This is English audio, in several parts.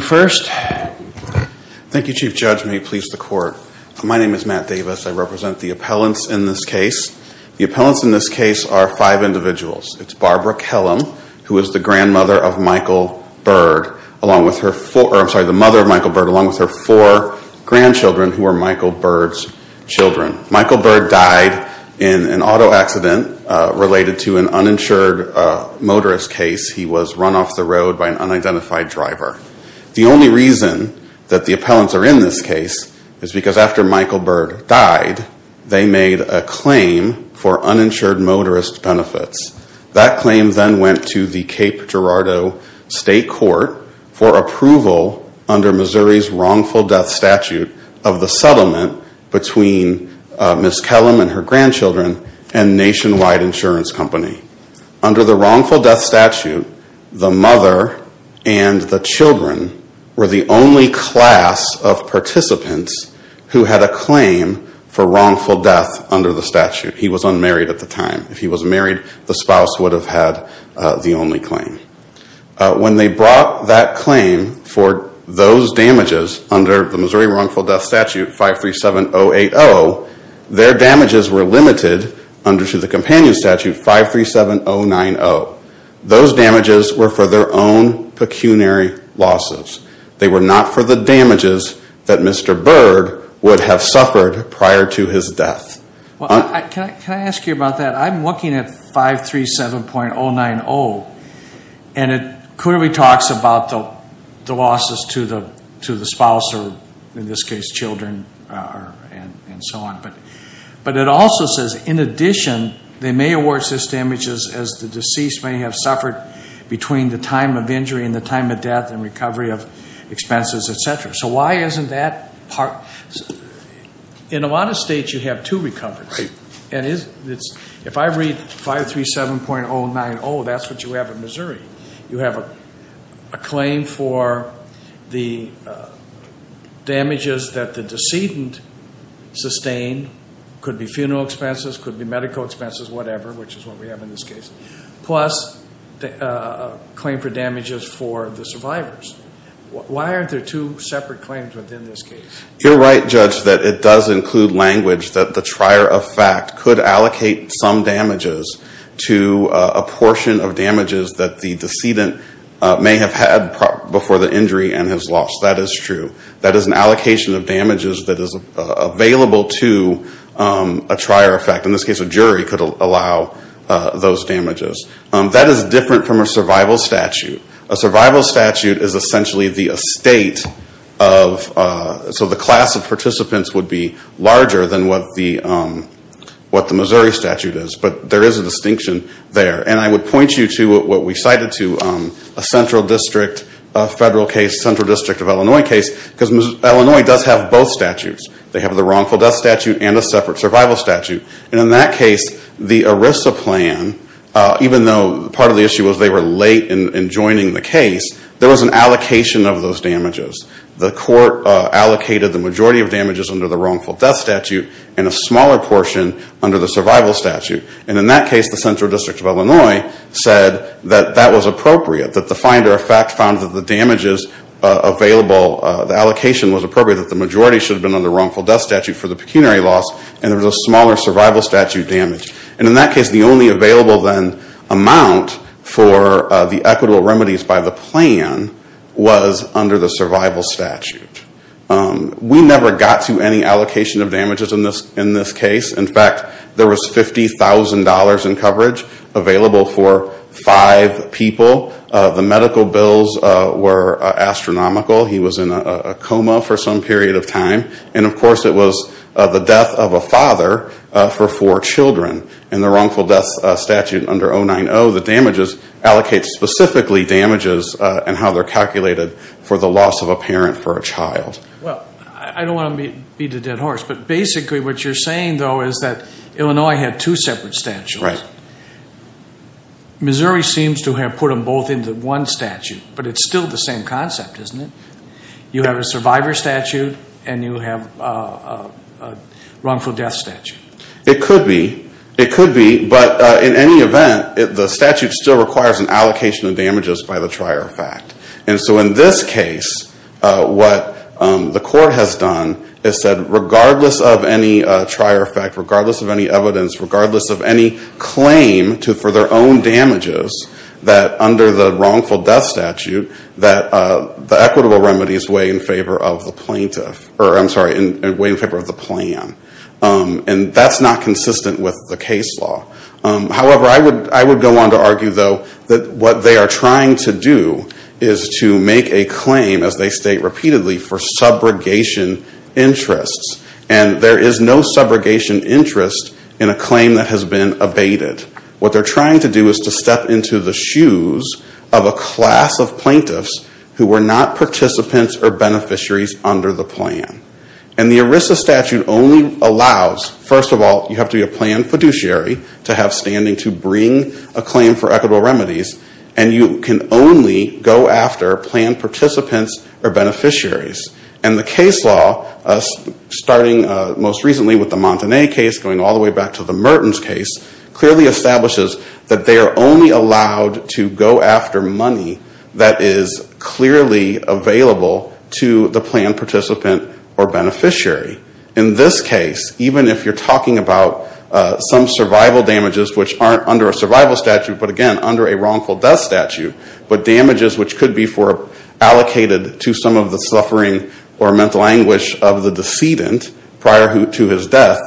First, thank you, Chief Judge. May it please the Court. My name is Matt Davis. I represent the appellants in this case. The appellants in this case are five individuals. It's Barbara Kellum, who is the grandmother of Michael Byrd, along with her four, I'm sorry, the mother of Michael Byrd, along with her four grandchildren who are Michael Byrd's children. Michael Byrd died in an auto accident related to an uninsured motorist case. He was run off the road by an unidentified driver. The only reason that the appellants are in this case is because after Michael Byrd died, they made a claim for uninsured motorist benefits. That claim then went to the Cape Girardeau State Court for approval under Missouri's wrongful death statute of the settlement between Ms. Kellum and her grandchildren and Nationwide Insurance Company. Under the wrongful death statute, the mother and the children were the only class of participants who had a claim for wrongful death under the statute. He was unmarried at the time. If he was married, the spouse would have had the only claim. When they brought that claim for those damages under the Missouri wrongful death statute 537.080, their damages were limited under the companion statute 537.090. Those damages were for their own pecuniary losses. They were not for the damages that Mr. Byrd would have suffered prior to his death. Well, can I ask you about that? I'm looking at 537.090 and it clearly talks about the to the spouse or in this case children and so on. But it also says in addition, they may award such damages as the deceased may have suffered between the time of injury and the time of death and recovery of expenses, et cetera. So why isn't that part? In a lot of states, you have two recoveries. If I read 537.090, that's what you have in Missouri. You have a claim for the damages that the decedent sustained, could be funeral expenses, could be medical expenses, whatever, which is what we have in this case, plus a claim for damages for the survivors. Why aren't there two separate claims within this case? You're right, Judge, that it does include language that the trier of fact could allocate some damages to a portion of damages that the decedent may have had before the injury and has lost. That is true. That is an allocation of damages that is available to a trier of fact. In this case, a jury could allow those damages. That is different from a survival statute. A survival statute is essentially the estate of, so the class of participants would be larger than what the Missouri statute is. But there is a distinction there. And I would point you to what we cited to a central district, a federal case, a central district of Illinois case, because Illinois does have both statutes. They have the wrongful death statute and a separate survival statute. And in that case, the ERISA plan, even though part of the issue was they were late in joining the case, there was an allocation of those under the wrongful death statute and a smaller portion under the survival statute. And in that case, the central district of Illinois said that that was appropriate, that the finder of fact found that the damages available, the allocation was appropriate, that the majority should have been under wrongful death statute for the pecuniary loss and there was a smaller survival statute damage. And in that case, the only available then amount for the equitable allocation of damages in this case, in fact, there was $50,000 in coverage available for five people. The medical bills were astronomical. He was in a coma for some period of time. And of course, it was the death of a father for four children. In the wrongful death statute under 090, the damages allocate specifically damages and how they're calculated for the dead horse. But basically what you're saying, though, is that Illinois had two separate statutes. Missouri seems to have put them both into one statute. But it's still the same concept, isn't it? You have a survivor statute and you have a wrongful death statute. It could be. It could be. But in any event, the statute still requires an allocation of regardless of any trier effect, regardless of any evidence, regardless of any claim for their own damages, that under the wrongful death statute, that the equitable remedies weigh in favor of the plaintiff, or I'm sorry, weigh in favor of the plan. And that's not consistent with the case law. However, I would go on to argue, though, that what they are trying to do is to make a claim, as they state repeatedly, for subrogation interests. And there is no subrogation interest in a claim that has been abated. What they're trying to do is to step into the shoes of a class of plaintiffs who were not participants or beneficiaries under the plan. And the ERISA statute only allows, first of all, you have to be a planned fiduciary to have standing to bring a claim for equitable remedies. And you can only go after planned participants or beneficiaries. And the case law, starting most recently with the Montanay case, going all the way back to the Mertens case, clearly establishes that they are only allowed to go after money that is clearly available to the planned participant or beneficiary. In this case, even if you're talking about some survival damages, which aren't under a survival statute, but again, under a wrongful death statute, but damages which could be allocated to some of the suffering or mental anguish of the decedent prior to his death,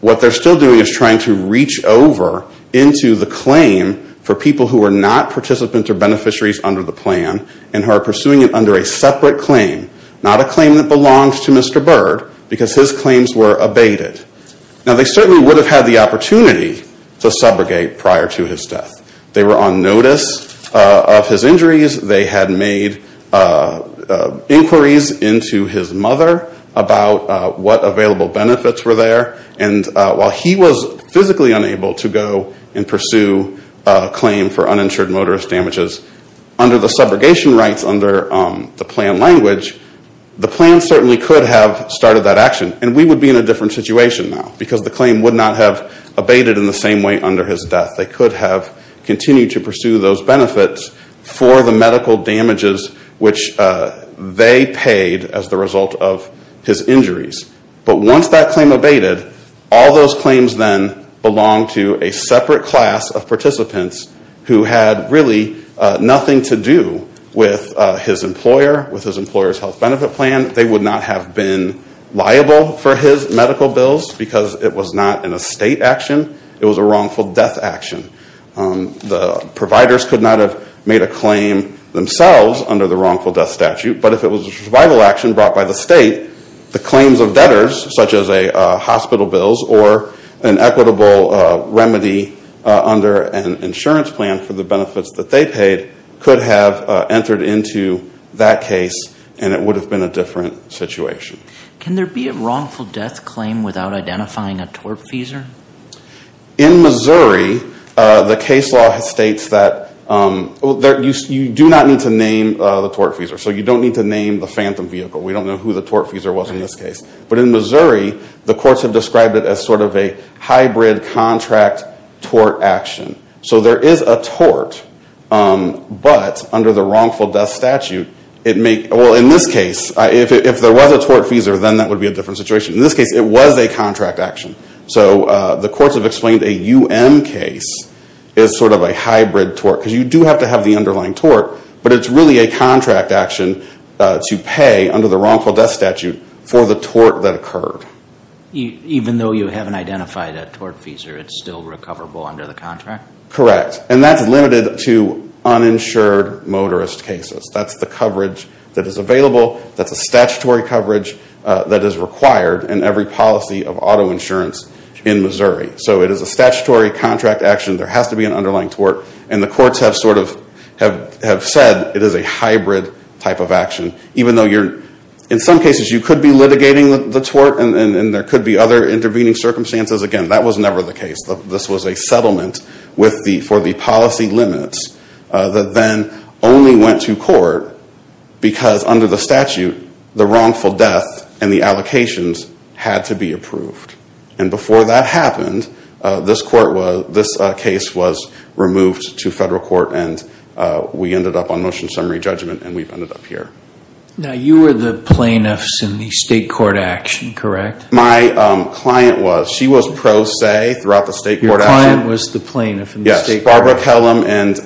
what they're still doing is trying to reach over into the claim for people who are not participants or beneficiaries under the plan and are pursuing it under a separate claim, not a claim that belongs to Mr. Byrd, because his claims were abated. Now, they certainly would have had the opportunity to subrogate prior to his death. They were on notice of his injuries. They had made inquiries into his mother about what available benefits were there. And while he was physically unable to go and pursue a claim for uninsured motorist damages, under the subrogation rights under the plan language, the plan certainly could have started that action. And we would be in a different situation now, because the claim would not have abated in the same way under his death. They could have continued to pursue those benefits for the medical damages which they paid as the result of his injuries. But once that claim abated, all those claims then belong to a participant who had really nothing to do with his employer, with his employer's health benefit plan. They would not have been liable for his medical bills, because it was not an estate action. It was a wrongful death action. The providers could not have made a claim themselves under the wrongful death statute. But if it was a survival action brought by the state, the claims of debtors, such as hospital bills or an equitable remedy under an insurance plan for the benefits that they paid, could have entered into that case and it would have been a different situation. Can there be a wrongful death claim without identifying a tortfeasor? In Missouri, the case law states that you do not need to name the tortfeasor. So you don't need to name the phantom vehicle. We don't know who the tortfeasor was in this action. So there is a tort, but under the wrongful death statute, it may, well in this case, if there was a tortfeasor, then that would be a different situation. In this case, it was a contract action. So the courts have explained a UM case is sort of a hybrid tort, because you do have to have the underlying tort, but it's really a contract action to pay under the wrongful death statute for the tort that occurred. Even though you haven't identified a tortfeasor, it's still recoverable under the contract? Correct. And that's limited to uninsured motorist cases. That's the coverage that is available. That's a statutory coverage that is required in every policy of auto insurance in Missouri. So it is a statutory contract action. There has to be an underlying tort. And the courts have sort of said it is a hybrid type of action, even though in some cases you could be litigating the tort and there could be other intervening circumstances. Again, that was never the case. This was a settlement for the policy limits that then only went to court because under the statute, the wrongful death and the allocations had to be approved. And before that happened, this case was removed to federal court and we ended up on motion summary judgment and we've ended up here. Now you were the plaintiffs in the state court action, correct? My client was. She was pro se throughout the state court action. Your client was the plaintiff in the state court? Yes. Barbara Kellum and...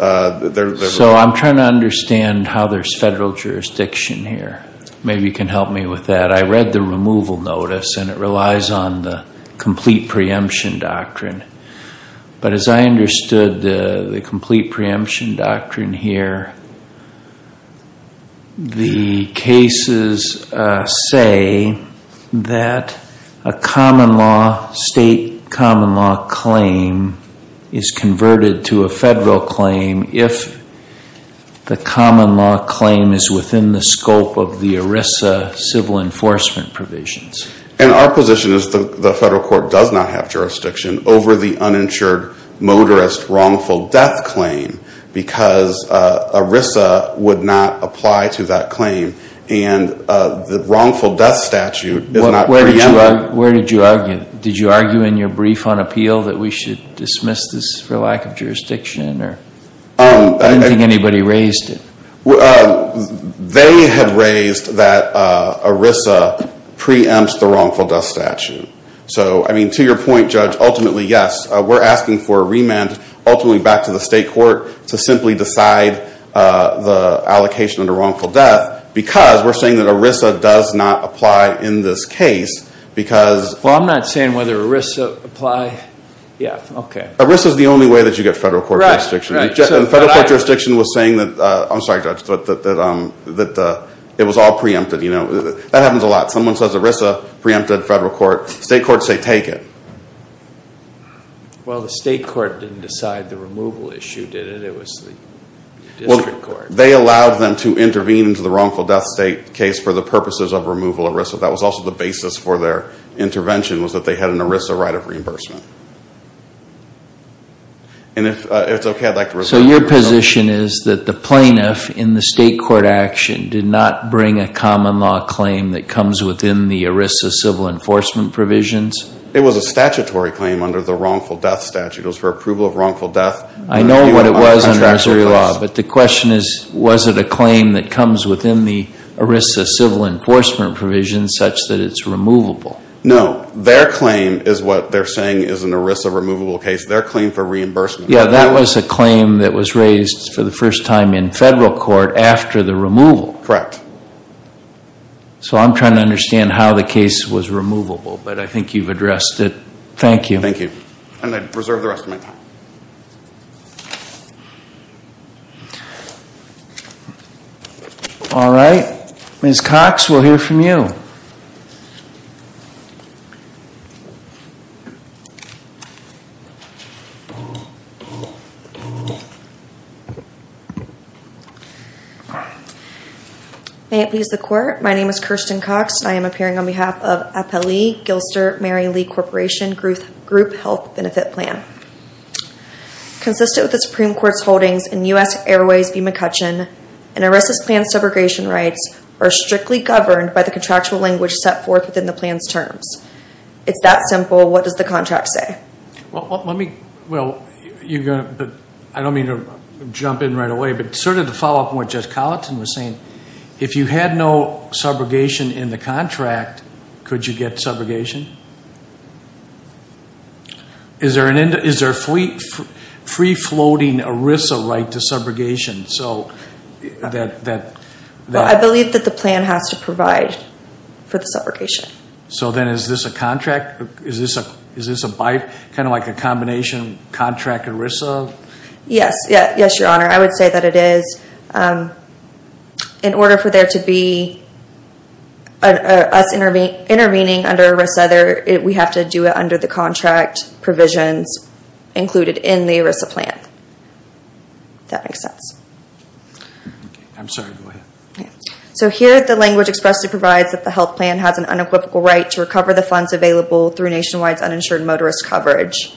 So I'm trying to understand how there's federal jurisdiction here. Maybe you can help me with that. I read the removal notice and it relies on the complete preemption doctrine. But as I understood the complete preemption doctrine here, the cases say that a common law, state common law claim is converted to a federal claim if the common law claim is within the scope of the ERISA civil enforcement provisions. And our position is the federal court does not have jurisdiction over the uninsured motorist wrongful death claim because ERISA would not apply to that claim. And the wrongful death statute is not preempted. Where did you argue? Did you argue in your brief on appeal that we should dismiss this for lack of jurisdiction? I don't think anybody raised it. They had raised that ERISA preempts the wrongful death statute. So I mean to your point, ultimately back to the state court to simply decide the allocation of the wrongful death because we're saying that ERISA does not apply in this case because... Well, I'm not saying whether ERISA apply. Yeah. Okay. ERISA is the only way that you get federal court jurisdiction. Federal court jurisdiction was saying that... I'm sorry, Judge, that it was all preempted. That happens a lot. Someone says ERISA preempted federal court. State courts say take it. Well, the state court didn't decide the removal issue, did it? It was the district court. Well, they allowed them to intervene into the wrongful death case for the purposes of removal of ERISA. That was also the basis for their intervention was that they had an ERISA right of reimbursement. And if it's okay, I'd like to... So your position is that the plaintiff in the state court action did not bring a common law claim that comes within the ERISA civil enforcement provisions? It was a statutory claim under the wrongful death statute. It was for approval of wrongful death. I know what it was under Missouri law, but the question is, was it a claim that comes within the ERISA civil enforcement provisions such that it's removable? No. Their claim is what they're saying is an ERISA removable case. Their claim for reimbursement. Yeah. That was a claim that was raised for the first time in federal court after the removal. Correct. So I'm trying to understand how the case was removable, but I think you've addressed it. Thank you. Thank you. And I'd reserve the rest of my time. All right. Ms. Cox, we'll hear from you. May it please the court. My name is Kirsten Cox and I am appearing on behalf of FLE, Gilster Mary Lee Corporation Group Health Benefit Plan. Consistent with the Supreme Court's holdings in U.S. Airways v. McCutcheon, an ERISA's planned subrogation rights are strictly governed by the contractual language set forth within the plan's terms. It's that simple. What does the contract say? Well, let me... Well, I don't mean to jump in right away, but sort of to follow up on what Judge Colleton was saying, if you had no subrogation in the contract, could you get subrogation? Is there a free-floating ERISA right to subrogation? So that... Well, I believe that the plan has to provide for the subrogation. So then is this a contract? Is this a by... I would say that it is. In order for there to be us intervening under ERISA, we have to do it under the contract provisions included in the ERISA plan. If that makes sense. I'm sorry. Go ahead. So here, the language expressly provides that the health plan has an unequivocal right to recover the funds available through nationwide uninsured motorist coverage.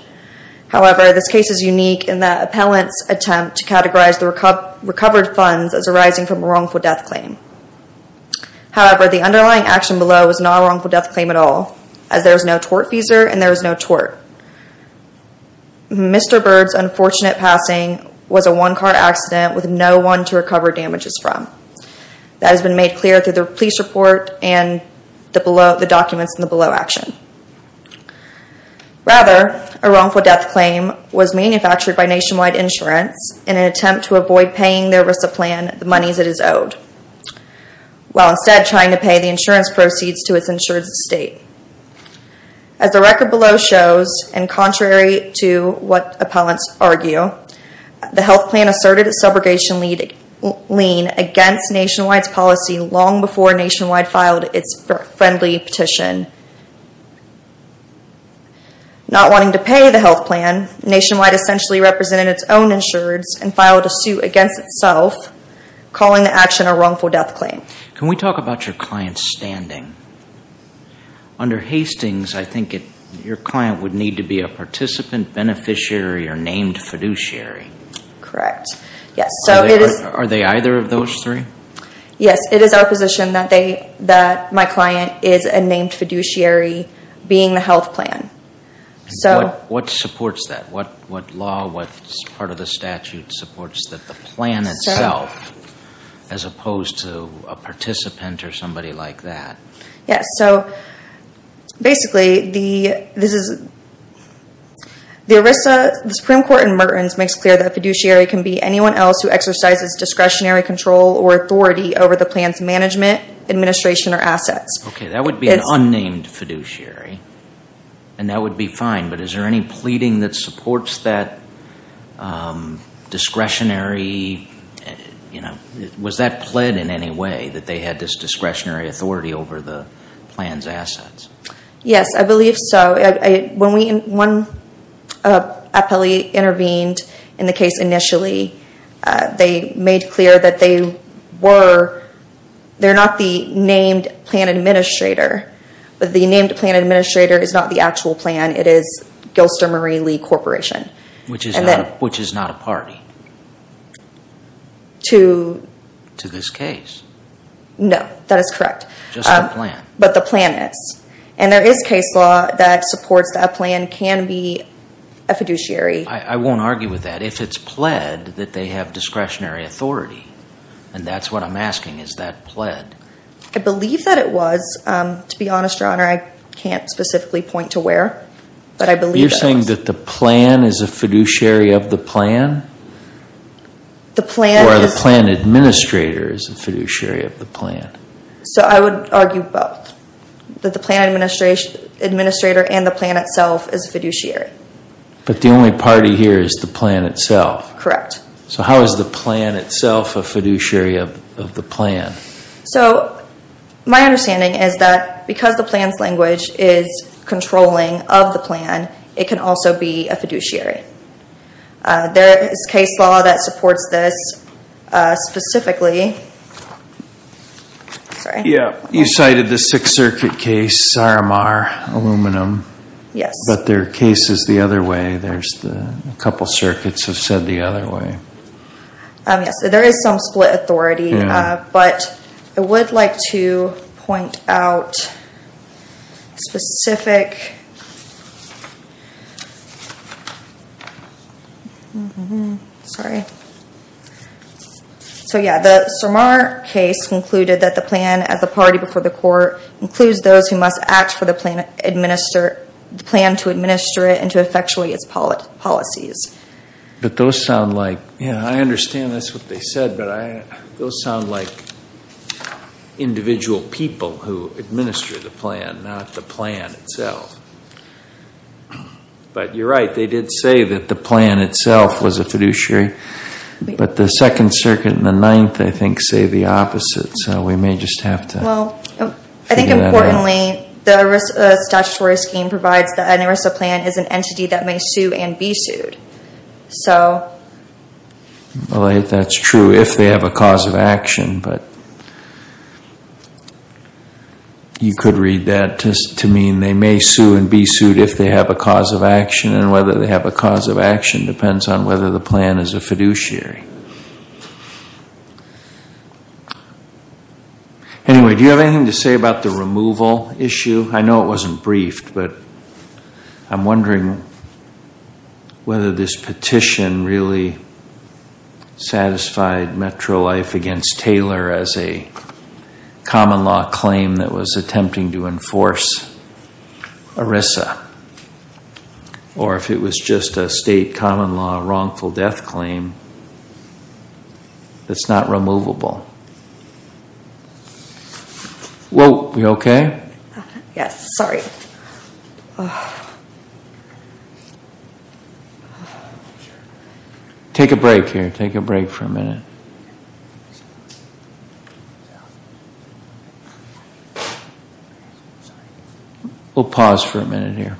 However, this case is unique in the appellant's attempt to categorize the recovered funds as arising from a wrongful death claim. However, the underlying action below is not a wrongful death claim at all, as there is no tort feeser and there is no tort. Mr. Bird's unfortunate passing was a one-car accident with no one to recover damages from. That has been made clear through the police report and the documents in the below action. Rather, a wrongful death claim was manufactured by Nationwide Insurance in an attempt to avoid paying their ERISA plan the monies it is owed, while instead trying to pay the insurance proceeds to its insured state. As the record below shows, and contrary to what appellants argue, the health plan asserted a subrogation lien against Nationwide's policy long before Nationwide filed its friendly petition. Not wanting to pay the health plan, Nationwide essentially represented its own insureds and filed a suit against itself, calling the action a wrongful death claim. Can we talk about your client's standing? Under Hastings, I think your client would need to be a participant, beneficiary, or named fiduciary. Correct. Yes. Are they either of those three? Yes. It is our position that my client is a named fiduciary, being the health plan. What supports that? What law, what part of the statute supports that the plan itself, as opposed to a participant or somebody like that? Yes. Basically, the ERISA, the Supreme Court in Mertens makes clear that a fiduciary can be anyone else who exercises discretionary control or authority over the plan's management, administration, or assets. That would be an unnamed fiduciary, and that would be fine, but is there any pleading that supports that discretionary... Was that pled in any way, that they had this discretionary authority over the plan's assets? Yes, I believe so. When one appellee intervened in the case initially, they made clear that they were... They're not the named plan administrator, but the named plan administrator is not the actual plan. It is Gilster Marie Lee Corporation. Which is not a party to this case. No, that is correct. Just the plan. But the plan is, and there is case law that supports that a plan can be a fiduciary. I won't argue with that. If it's pled that they have discretionary authority, and that's what I'm asking, is that pled? I believe that it was. To be honest, Your Honor, I can't specifically point to where, but I believe that it was. You're saying that the plan is a fiduciary of the plan? The plan is... Or the plan administrator is a fiduciary of the plan? I would argue both. That the plan administrator and the plan itself is a fiduciary. But the only party here is the plan itself? Correct. How is the plan itself a fiduciary of the plan? My understanding is that because the plan's language is controlling of the plan, it can also be a fiduciary. There is case law that supports this specifically. You cited the Sixth Circuit case, Saromar Aluminum, but their case is the other way. A couple circuits have said the other way. There is some split authority, but I would like to point out specific... Sorry. The Saromar case concluded that the plan, as a party before the court, includes those who must act for the plan to administer it and to effectually its policies. But those sound like... I understand that's what they said, but those sound like individual people who administer the plan, not the plan itself. But you're right. They did say that the plan itself was a fiduciary. But the Second Circuit and the Ninth, I think, say the opposite, so we may just have to... Well, I think importantly, the statutory scheme provides that an ERISA plan is an entity that may sue and be sued. Well, that's true if they have a cause of action, but you could read that to mean they may sue and be sued if they have a cause of action, and whether they have a cause of action depends on whether the plan is a fiduciary. Anyway, do you have anything to say about the removal issue? I know it wasn't briefed, but I'm wondering whether this petition really satisfied MetroLife against Taylor as a common law claim that was attempting to enforce ERISA, or if it was just a state common law wrongful death claim that's not removable. Are we okay? Yes, sorry. Take a break here. Take a break for a minute. We'll pause for a minute here. We'll pause for a minute here.